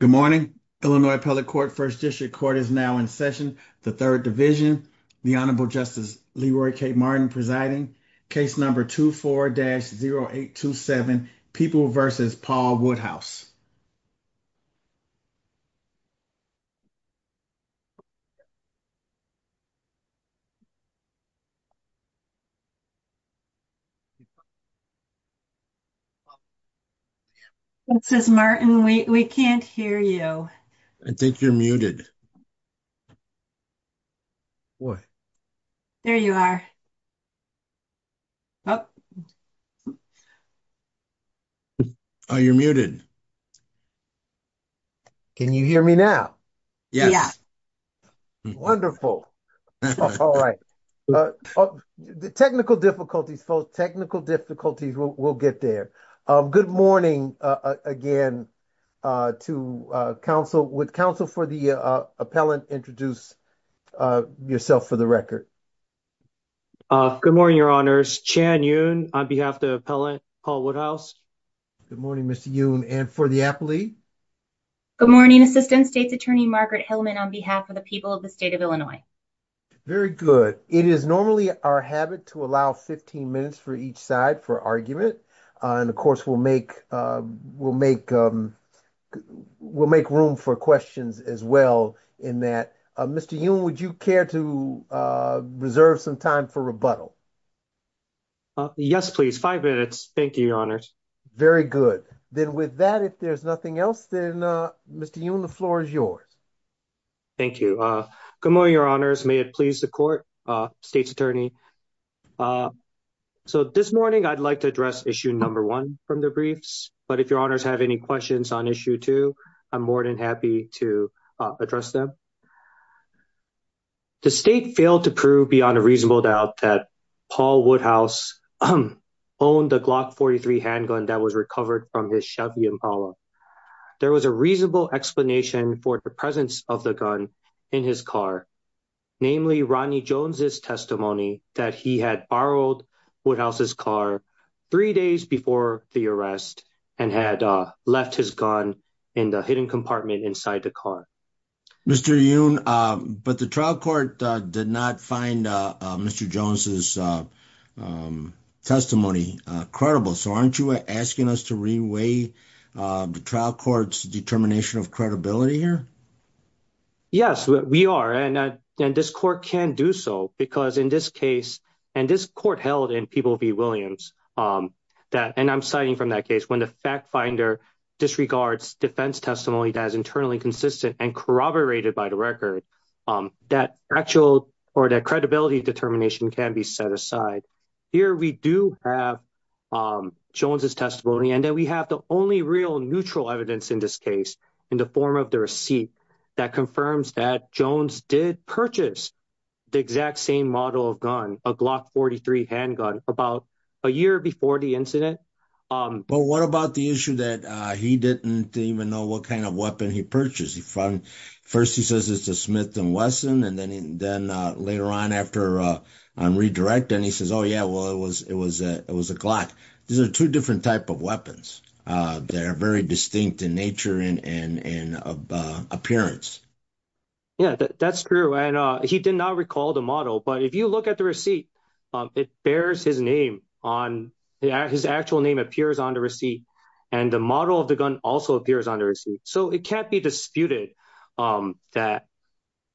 Good morning, Illinois Appellate Court, 1st District Court is now in session. The 3rd Division, the Honorable Justice LeRoy K. Martin presiding, case number 24-0827, People v. Paul Woodhouse. This is Martin. We can't hear you. I think you're muted. There you are. Oh, you're muted. Can you hear me now? Yes. Wonderful. All right. Technical difficulties, folks. Technical difficulties. We'll get there. Good morning again to counsel. Would counsel for the appellant introduce yourself for the record? Good morning, Your Honors. Chan Yoon on behalf of the appellant, Paul Woodhouse. Good morning, Mr. Yoon. And for the appellee? Good morning, Assistant State's Attorney Margaret Hillman on behalf of the people of the state of Illinois. Very good. It is normally our habit to allow 15 minutes for each side for argument. And of course, we'll make room for questions as well in that. Mr. Yoon, would you care to reserve some time for rebuttal? Yes, please. Five minutes. Thank you, Your Honors. Very good. Then with that, if there's nothing else, then Mr. Yoon, the floor is yours. Thank you. Good morning, Your Honors. May it please the court, State's Attorney. So this morning, I'd like to address issue number one from the briefs. But if Your Honors have any questions on issue two, I'm more than happy to address them. The state failed to prove beyond a reasonable doubt that Paul Woodhouse owned the Glock 43 handgun that was recovered from his Chevy Impala. There was a reasonable explanation for the presence of the gun in his car, namely Rodney Jones's testimony that he had borrowed Woodhouse's car three days before the arrest and had left his gun in the hidden compartment inside the car. Mr. Yoon, but the trial court did not find Mr. Jones's testimony credible. So aren't you asking us to reweigh the trial court's determination of credibility here? Yes, we are. And this court can do so because in this case and this court held in People v. Williams that and I'm citing from that case when the fact finder disregards defense testimony that is internally consistent and corroborated by the record, that actual or that credibility determination can be set aside. Here we do have Jones's testimony and that we have the only real neutral evidence in this case in the form of the receipt that confirms that Jones did purchase the exact same model of gun, a Glock 43 handgun about a year before the incident. But what about the issue that he didn't even know what kind of weapon he purchased? First, he says it's a Smith & Wesson. And then later on after I'm redirecting, he says, oh, yeah, well, it was a Glock. These are two different type of weapons. They're very distinct in nature and appearance. Yeah, that's true. And he did not recall the model. But if you look at the receipt, it bears his name on his actual name appears on the receipt. And the model of the gun also appears on the receipt. So it can't be disputed that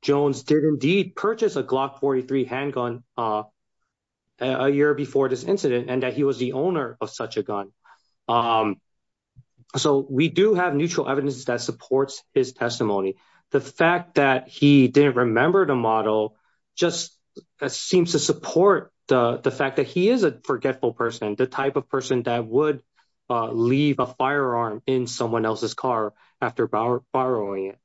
Jones did indeed purchase a Glock 43 handgun a year before this incident and that he was the owner of such a gun. So we do have neutral evidence that supports his testimony. The fact that he didn't remember the model just seems to support the fact that he is a forgetful person, the type of person that would leave a firearm in someone else's car after borrowing it.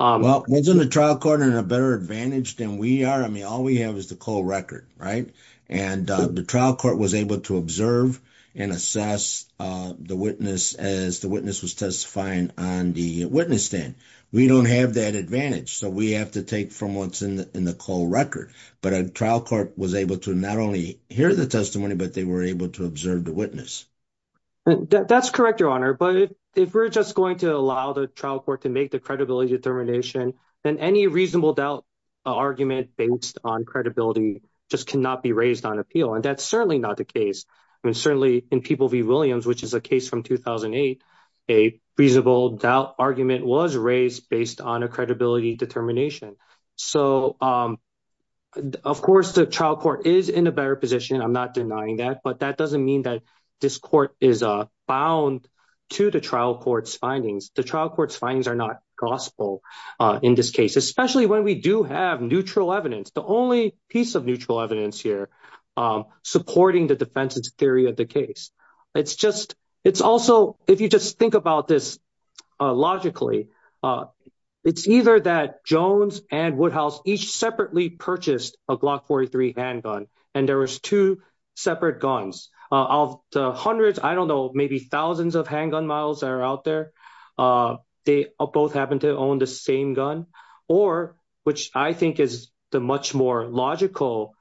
Well, wasn't the trial court in a better advantage than we are? I mean, all we have is the cold record. Right. And the trial court was able to observe and assess the witness as the witness was testifying on the witness stand. We don't have that advantage. So we have to take from what's in the cold record. But a trial court was able to not only hear the testimony, but they were able to observe the witness. That's correct, Your Honor. But if we're just going to allow the trial court to make the credibility determination, then any reasonable doubt argument based on credibility just cannot be raised on appeal. And that's certainly not the case. I mean, certainly in People v. Williams, which is a case from 2008, a reasonable doubt argument was raised based on a credibility determination. So, of course, the trial court is in a better position. I'm not denying that. But that doesn't mean that this court is bound to the trial court's findings. The trial court's findings are not gospel in this case, especially when we do have neutral evidence. The only piece of neutral evidence here supporting the defense's theory of the case. It's just it's also if you just think about this logically, it's either that Jones and Woodhouse each separately purchased a Glock 43 handgun. And there was two separate guns of the hundreds, I don't know, maybe thousands of handgun models that are out there. They both happen to own the same gun or which I think is the much more logical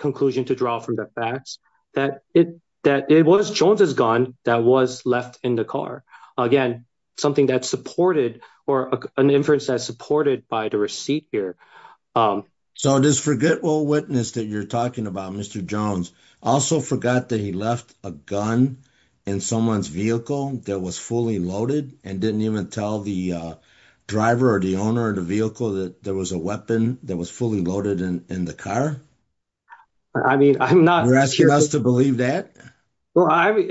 conclusion to draw from the facts that it that it was Jones's gun that was left in the car. Again, something that's supported or an inference that supported by the receipt here. So, this forgetful witness that you're talking about, Mr. Jones also forgot that he left a gun in someone's vehicle that was fully loaded and didn't even tell the driver or the owner of the vehicle that there was a weapon that was fully loaded in the car. I mean, I'm not asking us to believe that. Well, I'm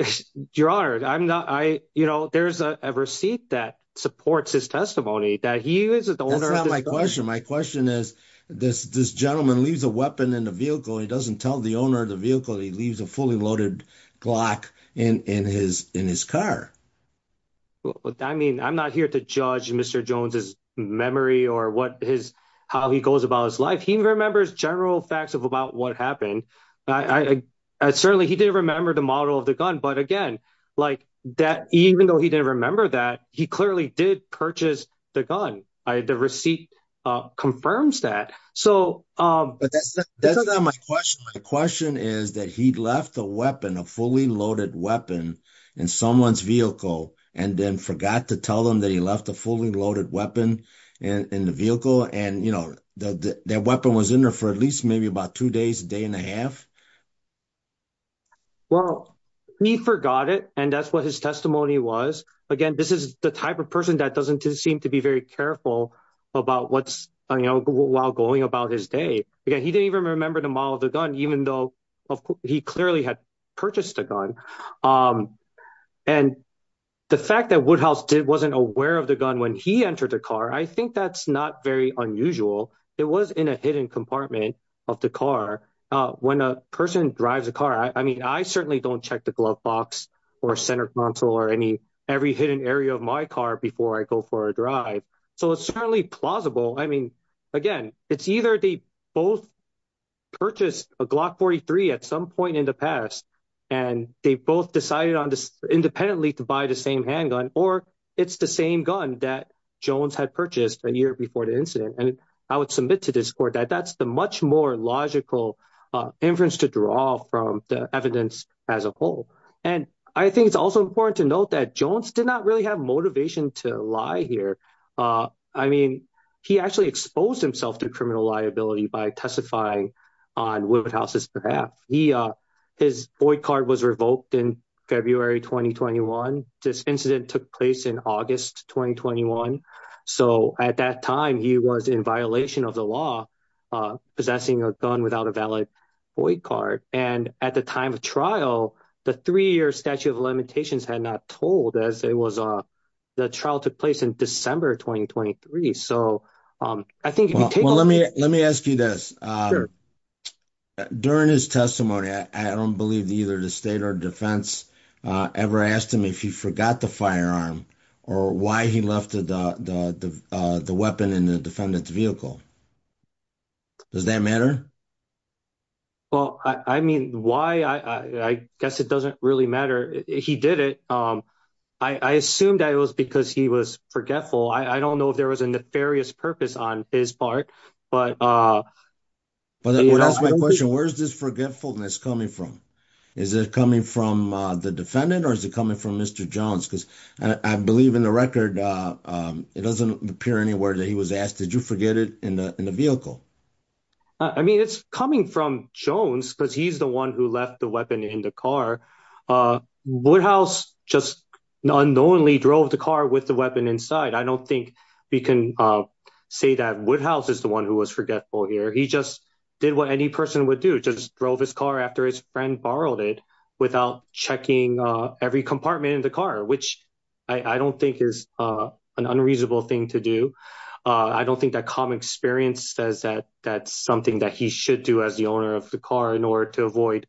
your honor. I'm not I, you know, there's a receipt that supports his testimony that he is the owner of my question. My question is, this gentleman leaves a weapon in the vehicle. He doesn't tell the owner of the vehicle. He leaves a fully loaded Glock in his in his car. Well, I mean, I'm not here to judge Mr. Jones's memory or what his how he goes about his life. He remembers general facts of about what happened. I certainly he didn't remember the model of the gun. But again, like that, even though he didn't remember that he clearly did purchase the gun. The receipt confirms that. So, that's not my question. My question is that he left a weapon, a fully loaded weapon in someone's vehicle and then forgot to tell them that he left a fully loaded weapon in the vehicle. And, you know, that weapon was in there for at least maybe about 2 days, a day and a half. Well, he forgot it and that's what his testimony was. Again, this is the type of person that doesn't seem to be very careful about what's while going about his day. He didn't even remember the model of the gun, even though he clearly had purchased a gun. And the fact that Woodhouse wasn't aware of the gun when he entered the car, I think that's not very unusual. It was in a hidden compartment of the car when a person drives a car. I mean, I certainly don't check the glove box or center console or any every hidden area of my car before I go for a drive. So, it's certainly plausible. I mean, again, it's either they both purchased a Glock 43 at some point in the past and they both decided independently to buy the same handgun or it's the same gun that Jones had purchased a year before the incident. And I would submit to this court that that's the much more logical inference to draw from the evidence as a whole. And I think it's also important to note that Jones did not really have motivation to lie here. I mean, he actually exposed himself to criminal liability by testifying on Woodhouse's behalf. His card was revoked in February 2021. This incident took place in August 2021. So, at that time, he was in violation of the law, possessing a gun without a valid card. And at the time of trial, the three-year statute of limitations had not told as it was the trial took place in December 2023. So, I think, well, let me let me ask you this. During his testimony, I don't believe either the state or defense ever asked him if he forgot the firearm or why he left the weapon in the defendant's vehicle. Does that matter? Well, I mean, why? I guess it doesn't really matter. He did it. I assumed that it was because he was forgetful. I don't know if there was a nefarious purpose on his part, but. But that's my question. Where's this forgetfulness coming from? Is it coming from the defendant or is it coming from Mr. Jones? Because I believe in the record, it doesn't appear anywhere that he was asked. Did you forget it in the vehicle? I mean, it's coming from Jones because he's the one who left the weapon in the car. Woodhouse just unknowingly drove the car with the weapon inside. I don't think we can say that Woodhouse is the one who was forgetful here. He just did what any person would do, just drove his car after his friend borrowed it without checking every compartment in the car, which I don't think is an unreasonable thing to do. I don't think that common experience says that that's something that he should do as the owner of the car in order to avoid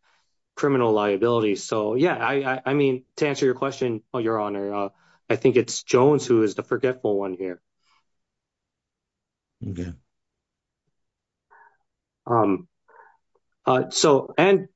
criminal liability. So, yeah, I mean, to answer your question, your honor, I think it's Jones who is the forgetful one here. Yeah. So and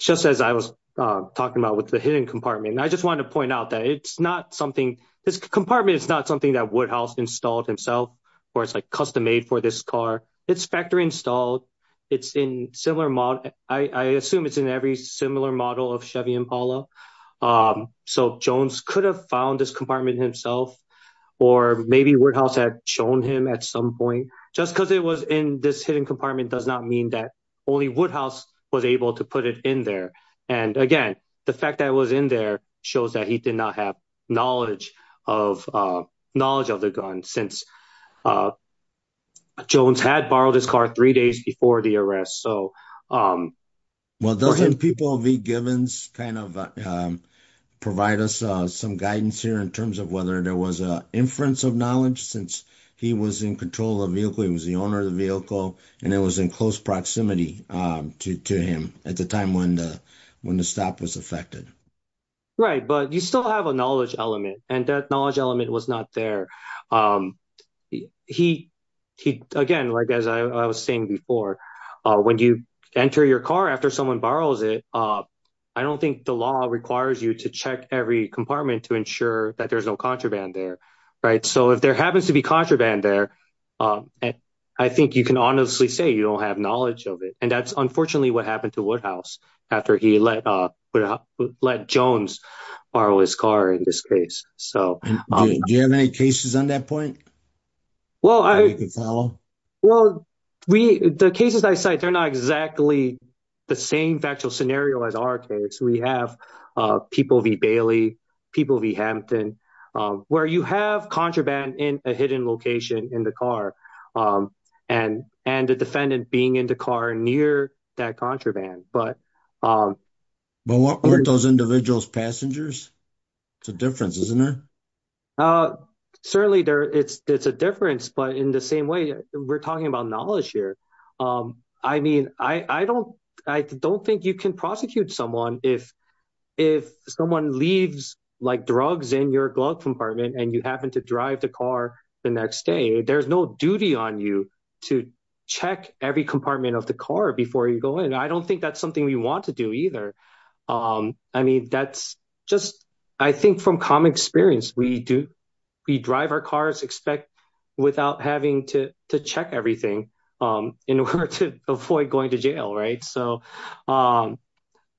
just as I was talking about with the hidden compartment, I just want to point out that it's not something this compartment is not something that Woodhouse installed himself, or it's like custom made for this car. It's factory installed. It's in similar model. I assume it's in every similar model of Chevy Impala. So Jones could have found this compartment himself, or maybe Woodhouse had shown him at some point just because it was in this hidden compartment does not mean that only Woodhouse was able to put it in there. And again, the fact that it was in there shows that he did not have knowledge of knowledge of the gun since Jones had borrowed his car three days before the arrest. So, well, doesn't people be given kind of provide us some guidance here in terms of whether there was an inference of knowledge since he was in control of vehicle. It was the owner of the vehicle, and it was in close proximity to him at the time when the stop was affected. Right, but you still have a knowledge element and that knowledge element was not there. He, he, again, like, as I was saying before, when you enter your car after someone borrows it. I don't think the law requires you to check every compartment to ensure that there's no contraband there. Right. So if there happens to be contraband there. I think you can honestly say you don't have knowledge of it. And that's unfortunately what happened to Woodhouse after he let Jones borrow his car in this case. So, do you have any cases on that point? Well, I, well, we, the cases I cite, they're not exactly the same factual scenario as our case. We have people, the Bailey people, the Hampton, where you have contraband in a hidden location in the car and and the defendant being in the car near that contraband. But weren't those individuals passengers? It's a difference, isn't it? Certainly, it's a difference, but in the same way, we're talking about knowledge here. I mean, I don't, I don't think you can prosecute someone if, if someone leaves like drugs in your glove compartment and you happen to drive the car the next day. There's no duty on you to check every compartment of the car before you go in. And I don't think that's something we want to do either. I mean, that's just, I think, from common experience, we do, we drive our cars, expect without having to check everything in order to avoid going to jail. Right. So,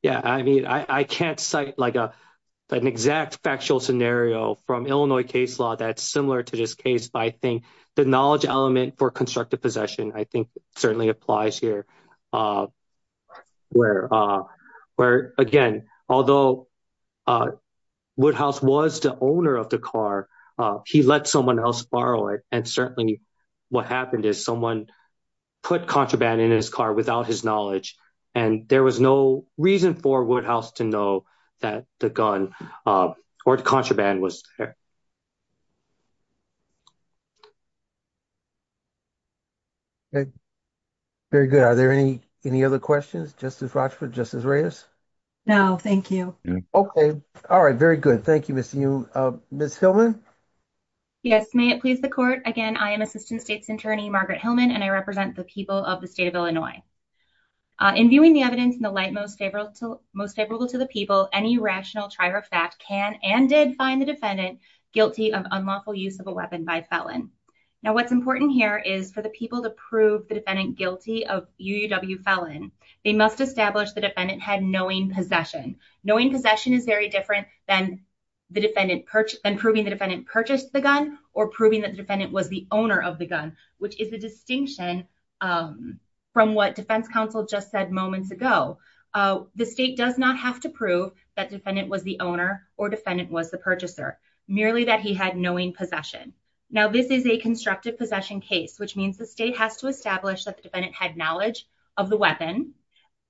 yeah, I mean, I can't cite like an exact factual scenario from Illinois case law that's similar to this case, but I think the knowledge element for constructive possession, I think, certainly applies here. Where, where, again, although Woodhouse was the owner of the car, he let someone else borrow it. And certainly, what happened is someone put contraband in his car without his knowledge. And there was no reason for Woodhouse to know that the gun or contraband was there. Very good. Are there any, any other questions? Justice Rochford, Justice Reyes? No, thank you. Okay. All right. Very good. Thank you. Ms. Hillman? Yes, may it please the court. Again, I am assistant state's attorney, Margaret Hillman, and I represent the people of the state of Illinois. In viewing the evidence in the light most favorable to most favorable to the people, any rational trier of fact can and did find the defendant guilty of unlawful use of a weapon by felon. Now, what's important here is for the people to prove the defendant guilty of UUW felon, they must establish the defendant had knowing possession. Knowing possession is very different than the defendant, than proving the defendant purchased the gun or proving that the defendant was the owner of the gun, which is a distinction from what defense counsel just said moments ago. The state does not have to prove that defendant was the owner or defendant was the purchaser, merely that he had knowing possession. Now, this is a constructive possession case, which means the state has to establish that the defendant had knowledge of the weapon,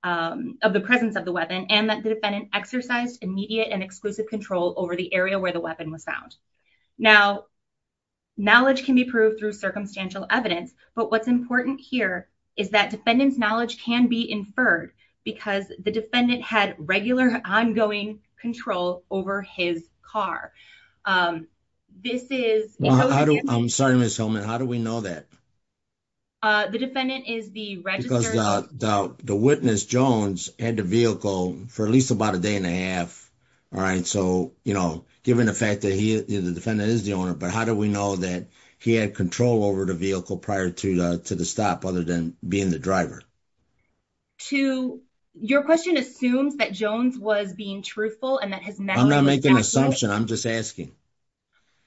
of the presence of the weapon, and that the defendant exercised immediate and exclusive control over the area where the weapon was found. Now, knowledge can be proved through circumstantial evidence, but what's important here is that defendant's knowledge can be inferred because the defendant had regular ongoing control over his car. I'm sorry, Ms. Hillman, how do we know that? The defendant is the registrar. The witness, Jones, had the vehicle for at least about a day and a half. All right. So, you know, given the fact that the defendant is the owner, but how do we know that he had control over the vehicle prior to the stop other than being the driver? Your question assumes that Jones was being truthful. I'm not making an assumption. I'm just asking.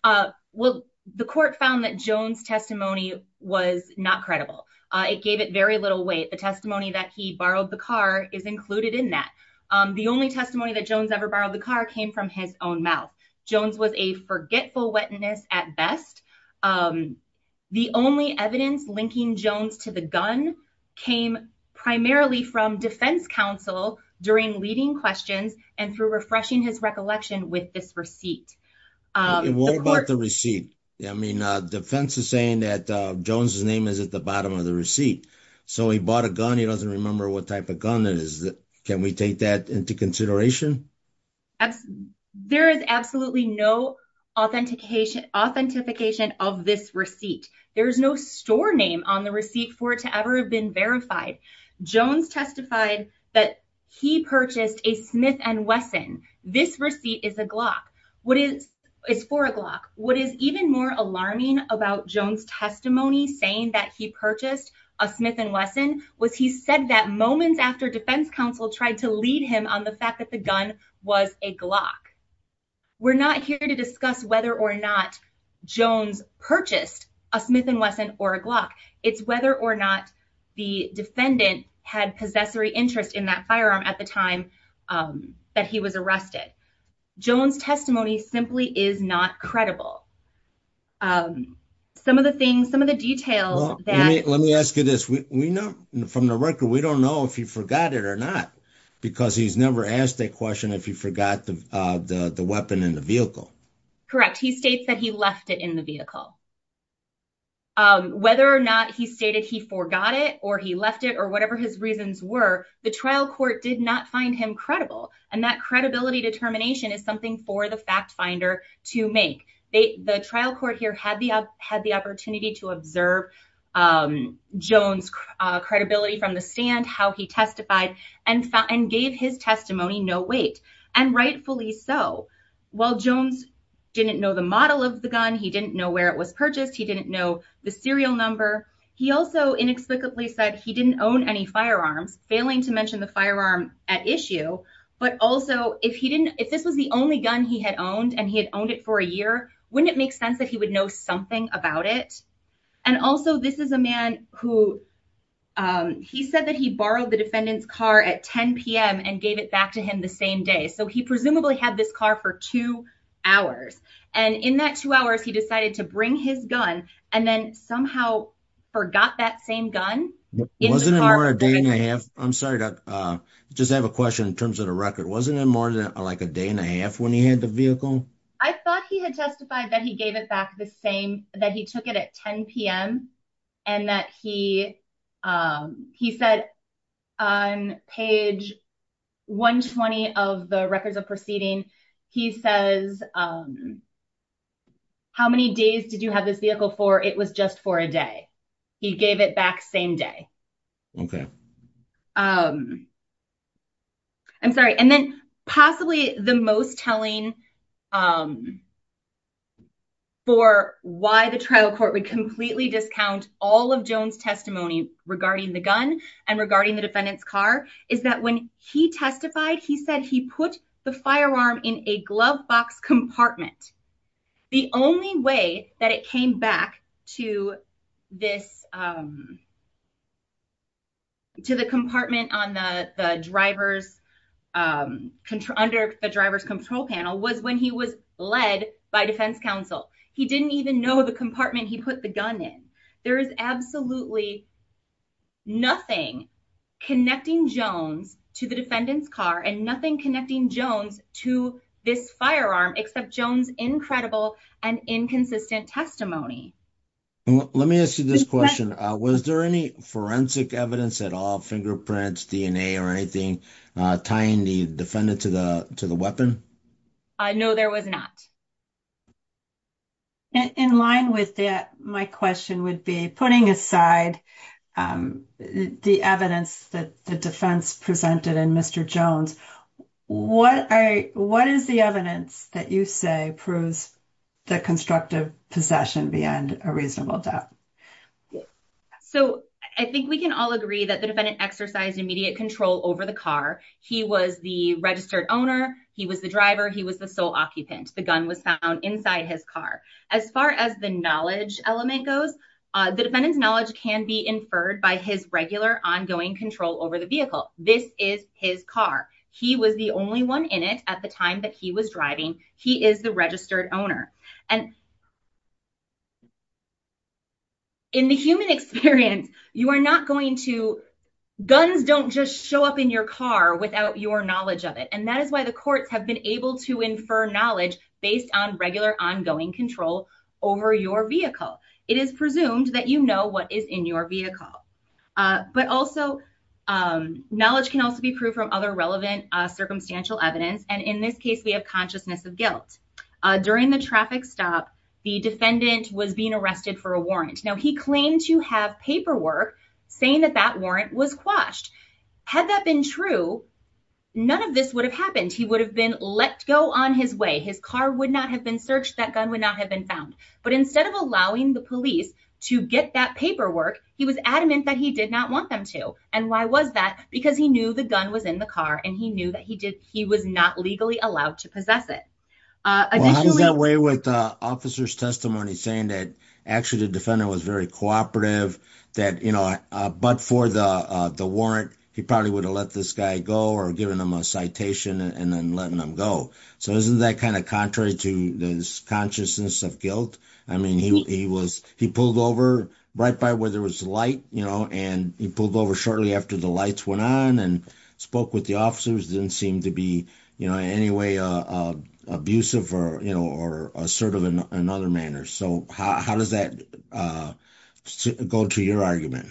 Well, the court found that Jones testimony was not credible. It gave it very little weight. The testimony that he borrowed the car is included in that. The only testimony that Jones ever borrowed the car came from his own mouth. Jones was a forgetful witness at best. The only evidence linking Jones to the gun came primarily from defense counsel during leading questions and for refreshing his recollection with this receipt. What about the receipt? I mean, defense is saying that Jones's name is at the bottom of the receipt. So he bought a gun. He doesn't remember what type of gun it is. Can we take that into consideration? There is absolutely no authentication, authentication of this receipt. There is no store name on the receipt for it to ever have been verified. Jones testified that he purchased a Smith and Wesson. This receipt is a Glock. What is is for a Glock. What is even more alarming about Jones testimony saying that he purchased a Smith and Wesson was he said that moments after defense counsel tried to lead him on the fact that the gun was a Glock. We're not here to discuss whether or not Jones purchased a Smith and Wesson or a Glock. It's whether or not the defendant had possessory interest in that firearm at the time that he was arrested. Jones testimony simply is not credible. Some of the things, some of the details. Let me ask you this. We know from the record. We don't know if he forgot it or not, because he's never asked that question. If you forgot the weapon in the vehicle. Correct. He states that he left it in the vehicle. Whether or not he stated he forgot it or he left it or whatever his reasons were, the trial court did not find him credible. And that credibility determination is something for the fact finder to make. The trial court here had the opportunity to observe Jones credibility from the stand, how he testified and gave his testimony no weight. And rightfully so. Well, Jones didn't know the model of the gun. He didn't know where it was purchased. He didn't know the serial number. He also inexplicably said he didn't own any firearms, failing to mention the firearm at issue. But also, if he didn't, if this was the only gun he had owned and he had owned it for a year, wouldn't it make sense that he would know something about it? And also, this is a man who he said that he borrowed the defendant's car at 10 p.m. and gave it back to him the same day. So he presumably had this car for two hours. And in that two hours, he decided to bring his gun and then somehow forgot that same gun. It wasn't a day and a half. I'm sorry to just have a question in terms of the record. Wasn't it more than like a day and a half when he had the vehicle? I thought he had testified that he gave it back the same that he took it at 10 p.m. And that he he said on page 120 of the records of proceeding, he says, how many days did you have this vehicle for? It was just for a day. He gave it back same day. OK. I'm sorry. And then possibly the most telling. For why the trial court would completely discount all of Jones testimony regarding the gun and regarding the defendant's car, is that when he testified, he said he put the firearm in a glove box compartment. The only way that it came back to this. To the compartment on the driver's under the driver's control panel was when he was led by defense counsel. He didn't even know the compartment he put the gun in. There is absolutely nothing connecting Jones to the defendant's car and nothing connecting Jones to this firearm except Jones. Incredible and inconsistent testimony. Let me ask you this question. Was there any forensic evidence at all? Fingerprints, DNA or anything tying the defendant to the to the weapon? No, there was not. In line with that, my question would be putting aside the evidence that the defense presented and Mr. Jones, what I what is the evidence that you say proves the constructive possession beyond a reasonable doubt? So I think we can all agree that the defendant exercised immediate control over the car. He was the registered owner. He was the driver. He was the sole occupant. The gun was found inside his car. As far as the knowledge element goes, the defendant's knowledge can be inferred by his regular ongoing control over the vehicle. This is his car. He was the only one in it at the time that he was driving. He is the registered owner. And. In the human experience, you are not going to guns, don't just show up in your car without your knowledge of it. And that is why the courts have been able to infer knowledge based on regular ongoing control over your vehicle. It is presumed that, you know, what is in your vehicle, but also knowledge can also be proved from other relevant circumstantial evidence. And in this case, we have consciousness of guilt during the traffic stop. The defendant was being arrested for a warrant. Now, he claimed to have paperwork saying that that warrant was quashed. Had that been true, none of this would have happened. He would have been let go on his way. His car would not have been searched. That gun would not have been found. But instead of allowing the police to get that paperwork, he was adamant that he did not want them to. And why was that? Because he knew the gun was in the car and he knew that he did. He was not legally allowed to possess it. How does that weigh with the officer's testimony saying that actually the defendant was very cooperative that, you know, but for the warrant, he probably would have let this guy go or given him a citation and then letting him go. So isn't that kind of contrary to this consciousness of guilt? I mean, he was he pulled over right by where there was light, you know, and he pulled over shortly after the lights went on and spoke with the officers. Didn't seem to be, you know, in any way abusive or, you know, or assertive in another manner. So how does that go to your argument?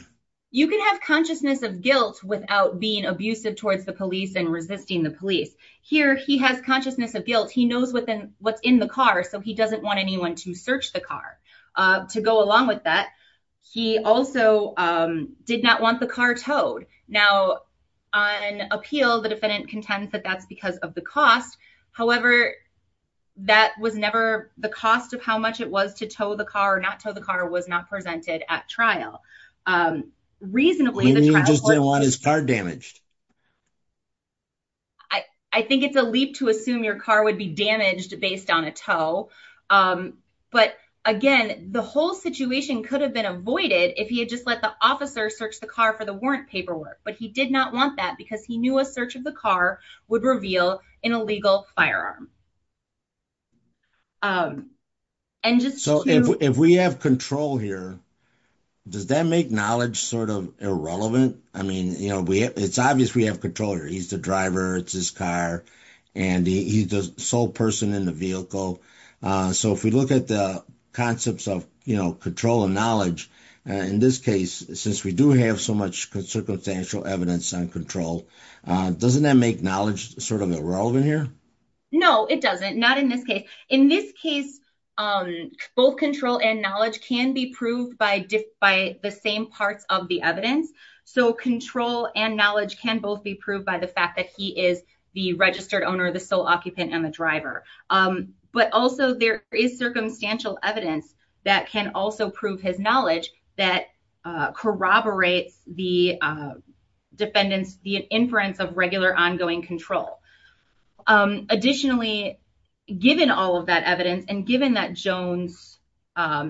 You can have consciousness of guilt without being abusive towards the police and resisting the police. Here he has consciousness of guilt. He knows what's in the car. So he doesn't want anyone to search the car to go along with that. He also did not want the car towed. Now, on appeal, the defendant contends that that's because of the cost. However, that was never the cost of how much it was to tow the car or not tow the car was not presented at trial. Reasonably, they just didn't want his car damaged. I think it's a leap to assume your car would be damaged based on a tow. But again, the whole situation could have been avoided if he had just let the officer search the car for the warrant paperwork. But he did not want that because he knew a search of the car would reveal an illegal firearm. And so if we have control here, does that make knowledge sort of irrelevant? I mean, you know, it's obvious we have control. He's the driver. It's his car. And he's the sole person in the vehicle. So if we look at the concepts of, you know, control and knowledge in this case, since we do have so much circumstantial evidence and control, doesn't that make knowledge sort of irrelevant here? No, it doesn't. Not in this case. In this case, both control and knowledge can be proved by by the same parts of the evidence. So control and knowledge can both be proved by the fact that he is the registered owner, the sole occupant and the driver. But also there is circumstantial evidence that can also prove his knowledge that corroborates the defendant's inference of regular ongoing control. Additionally, given all of that evidence and given that Jones'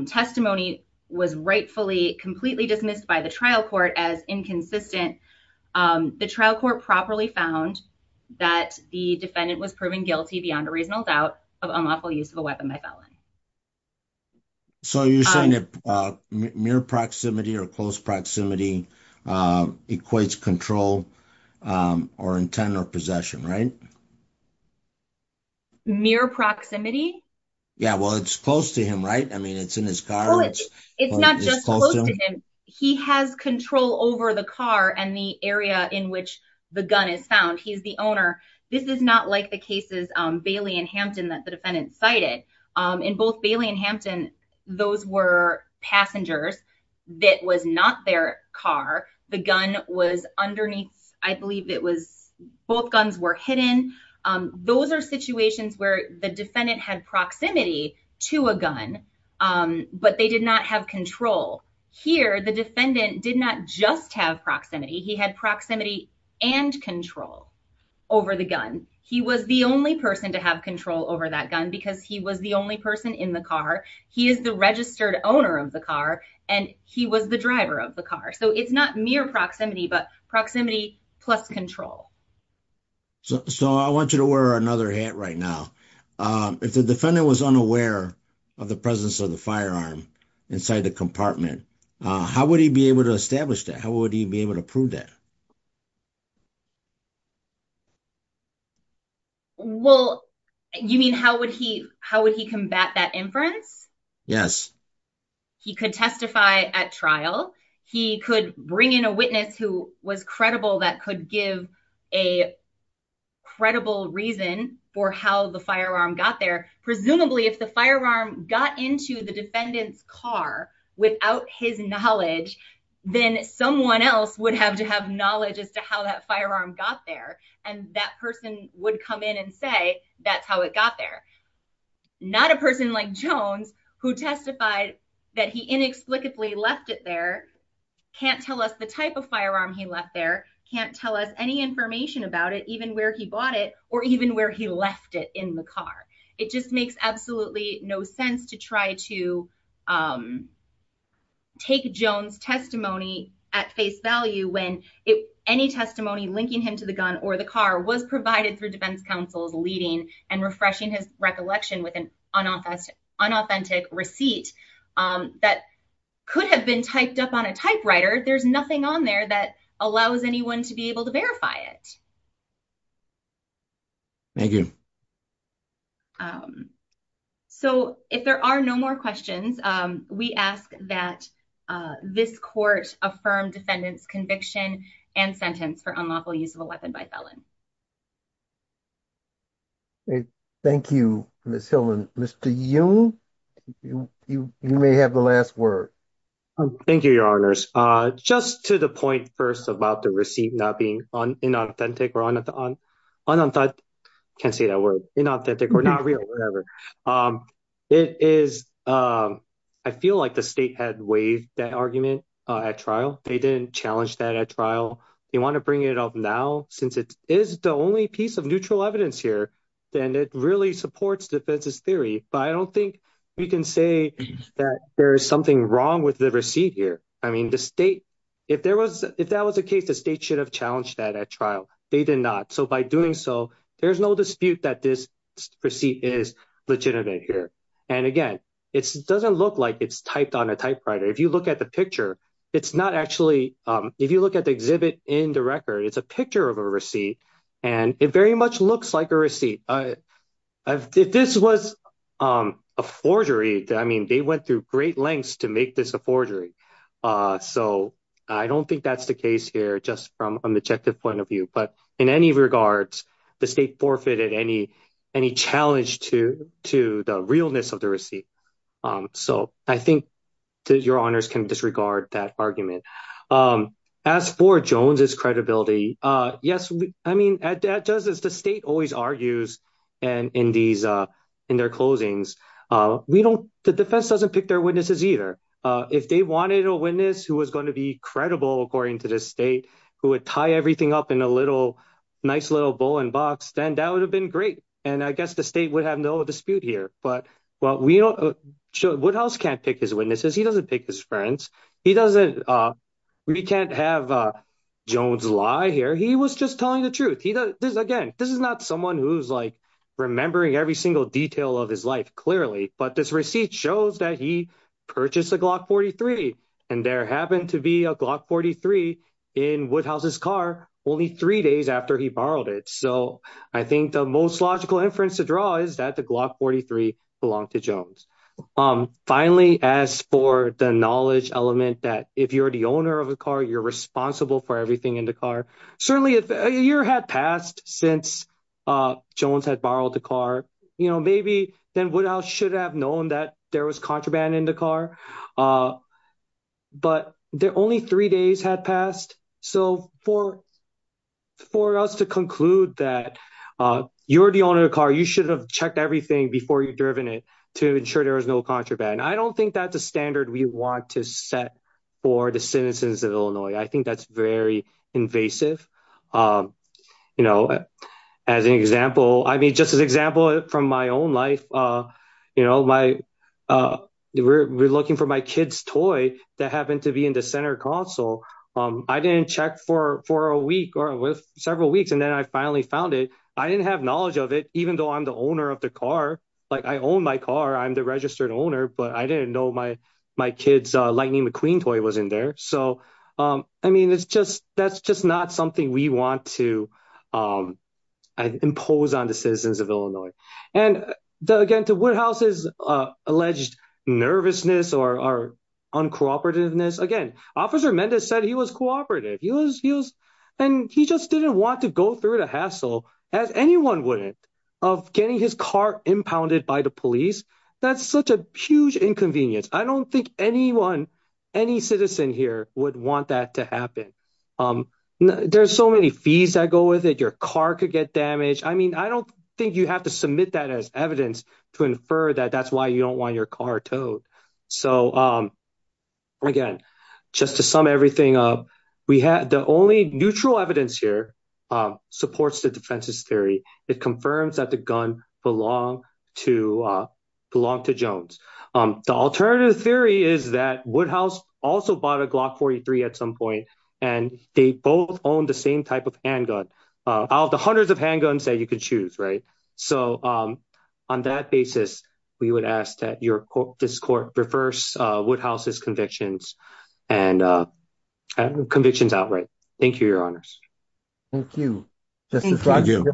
testimony was rightfully completely dismissed by the trial court as inconsistent, the trial court properly found that the defendant was proven guilty beyond a reasonable doubt of unlawful use of a weapon by felon. So you're saying that mere proximity or close proximity equates control or intent or possession, right? Mere proximity? Yeah, well, it's close to him, right? I mean, it's in his car. It's not just close to him. He has control over the car and the area in which the gun is found. He's the owner. This is not like the cases Bailey and Hampton that the defendant cited in both Bailey and Hampton. Those were passengers. That was not their car. The gun was underneath. I believe it was both guns were hidden. Those are situations where the defendant had proximity to a gun. But they did not have control here. The defendant did not just have proximity. He had proximity and control over the gun. He was the only person to have control over that gun because he was the only person in the car. He is the registered owner of the car and he was the driver of the car. So it's not mere proximity, but proximity plus control. So I want you to wear another hat right now. If the defendant was unaware of the presence of the firearm inside the compartment, how would he be able to establish that? How would he be able to prove that? Well, you mean, how would he how would he combat that inference? Yes, he could testify at trial. He could bring in a witness who was credible that could give a credible reason for how the firearm got there. Presumably, if the firearm got into the defendant's car without his knowledge, then someone else would have to have knowledge as to how that firearm got there. And that person would come in and say, that's how it got there. Not a person like Jones, who testified that he inexplicably left it there, can't tell us the type of firearm he left there, can't tell us any information about it, even where he bought it or even where he left it in the car. It just makes absolutely no sense to try to take Jones testimony at face value when any testimony linking him to the gun or the car was provided through defense counsel's leading and refreshing his recollection with an unauthentic receipt that could have been typed up on a typewriter. There's nothing on there that allows anyone to be able to verify it. Thank you. So if there are no more questions, we ask that this court affirm defendant's conviction and sentence for unlawful use of a weapon by felon. Thank you, Ms. Hillman. Mr. Young, you may have the last word. Thank you, your honors. Just to the point first about the receipt not being on inauthentic or on, on, on. I can't say that word inauthentic or not real, whatever it is. I feel like the state had waived that argument at trial. They didn't challenge that at trial. You want to bring it up now, since it is the only piece of neutral evidence here, then it really supports defense's theory. But I don't think we can say that there is something wrong with the receipt here. I mean, the state, if there was, if that was the case, the state should have challenged that at trial. They did not. So by doing so, there's no dispute that this receipt is legitimate here. And again, it doesn't look like it's typed on a typewriter. If you look at the picture, it's not actually, if you look at the exhibit in the record, it's a picture of a receipt. And it very much looks like a receipt. If this was a forgery, I mean, they went through great lengths to make this a forgery. So I don't think that's the case here, just from an objective point of view. But in any regards, the state forfeited any any challenge to to the realness of the receipt. So I think your honors can disregard that argument. As for Jones's credibility. Yes. I mean, as the state always argues. And in these in their closings, we don't the defense doesn't pick their witnesses either. If they wanted a witness who was going to be credible, according to the state, who would tie everything up in a little nice little bowling box, then that would have been great. And I guess the state would have no dispute here. But what we don't show what else can't pick his witnesses. He doesn't pick his friends. He doesn't. We can't have Jones lie here. He was just telling the truth. He does this again. This is not someone who's like remembering every single detail of his life, clearly. But this receipt shows that he purchased a Glock 43. And there happened to be a Glock 43 in Woodhouse's car only three days after he borrowed it. So I think the most logical inference to draw is that the Glock 43 belonged to Jones. Finally, as for the knowledge element, that if you're the owner of a car, you're responsible for everything in the car. Certainly, a year had passed since Jones had borrowed the car. You know, maybe then Woodhouse should have known that there was contraband in the car, but there only three days had passed. So for. For us to conclude that you're the owner of the car, you should have checked everything before you've driven it to ensure there is no contraband. I don't think that's a standard we want to set for the citizens of Illinois. I think that's very invasive. You know, as an example, I mean, just as an example from my own life, you know, my we're looking for my kid's toy that happened to be in the center console. I didn't check for for a week or several weeks, and then I finally found it. I didn't have knowledge of it, even though I'm the owner of the car. Like I own my car. I'm the registered owner. But I didn't know my my kid's Lightning McQueen toy was in there. So, I mean, it's just that's just not something we want to impose on the citizens of Illinois. And again, to what house is alleged nervousness or uncooperative this again, officer Mendes said he was cooperative. He was he was and he just didn't want to go through the hassle as anyone would of getting his car impounded by the police. That's such a huge inconvenience. I don't think anyone, any citizen here would want that to happen. There's so many fees that go with it. Your car could get damaged. I mean, I don't think you have to submit that as evidence to infer that that's why you don't want your car towed. So, again, just to sum everything up, we had the only neutral evidence here supports the defense's theory. It confirms that the gun belong to belong to Jones. The alternative theory is that Woodhouse also bought a Glock 43 at some point, and they both own the same type of handgun out. The hundreds of handguns that you could choose. Right. So on that basis, we would ask that your court this court reverse Woodhouse's convictions and convictions outright. Thank you, your honors. Thank you. Thank you.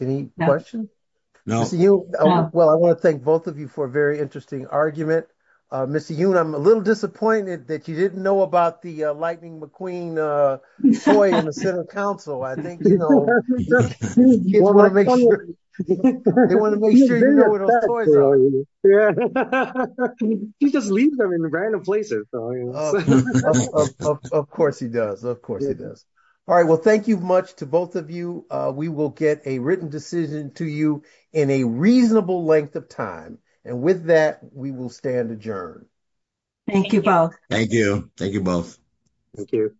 Any question? No. Well, I want to thank both of you for a very interesting argument. Miss, you know, I'm a little disappointed that you didn't know about the Lightning McQueen boy in the Senate council. I think, you know, you want to make sure you just leave them in random places. Of course he does. Of course he does. All right. Well, thank you much to both of you. We will get a written decision to you in a reasonable length of time. And with that, we will stand adjourned. Thank you. Thank you. Thank you both. Thank you.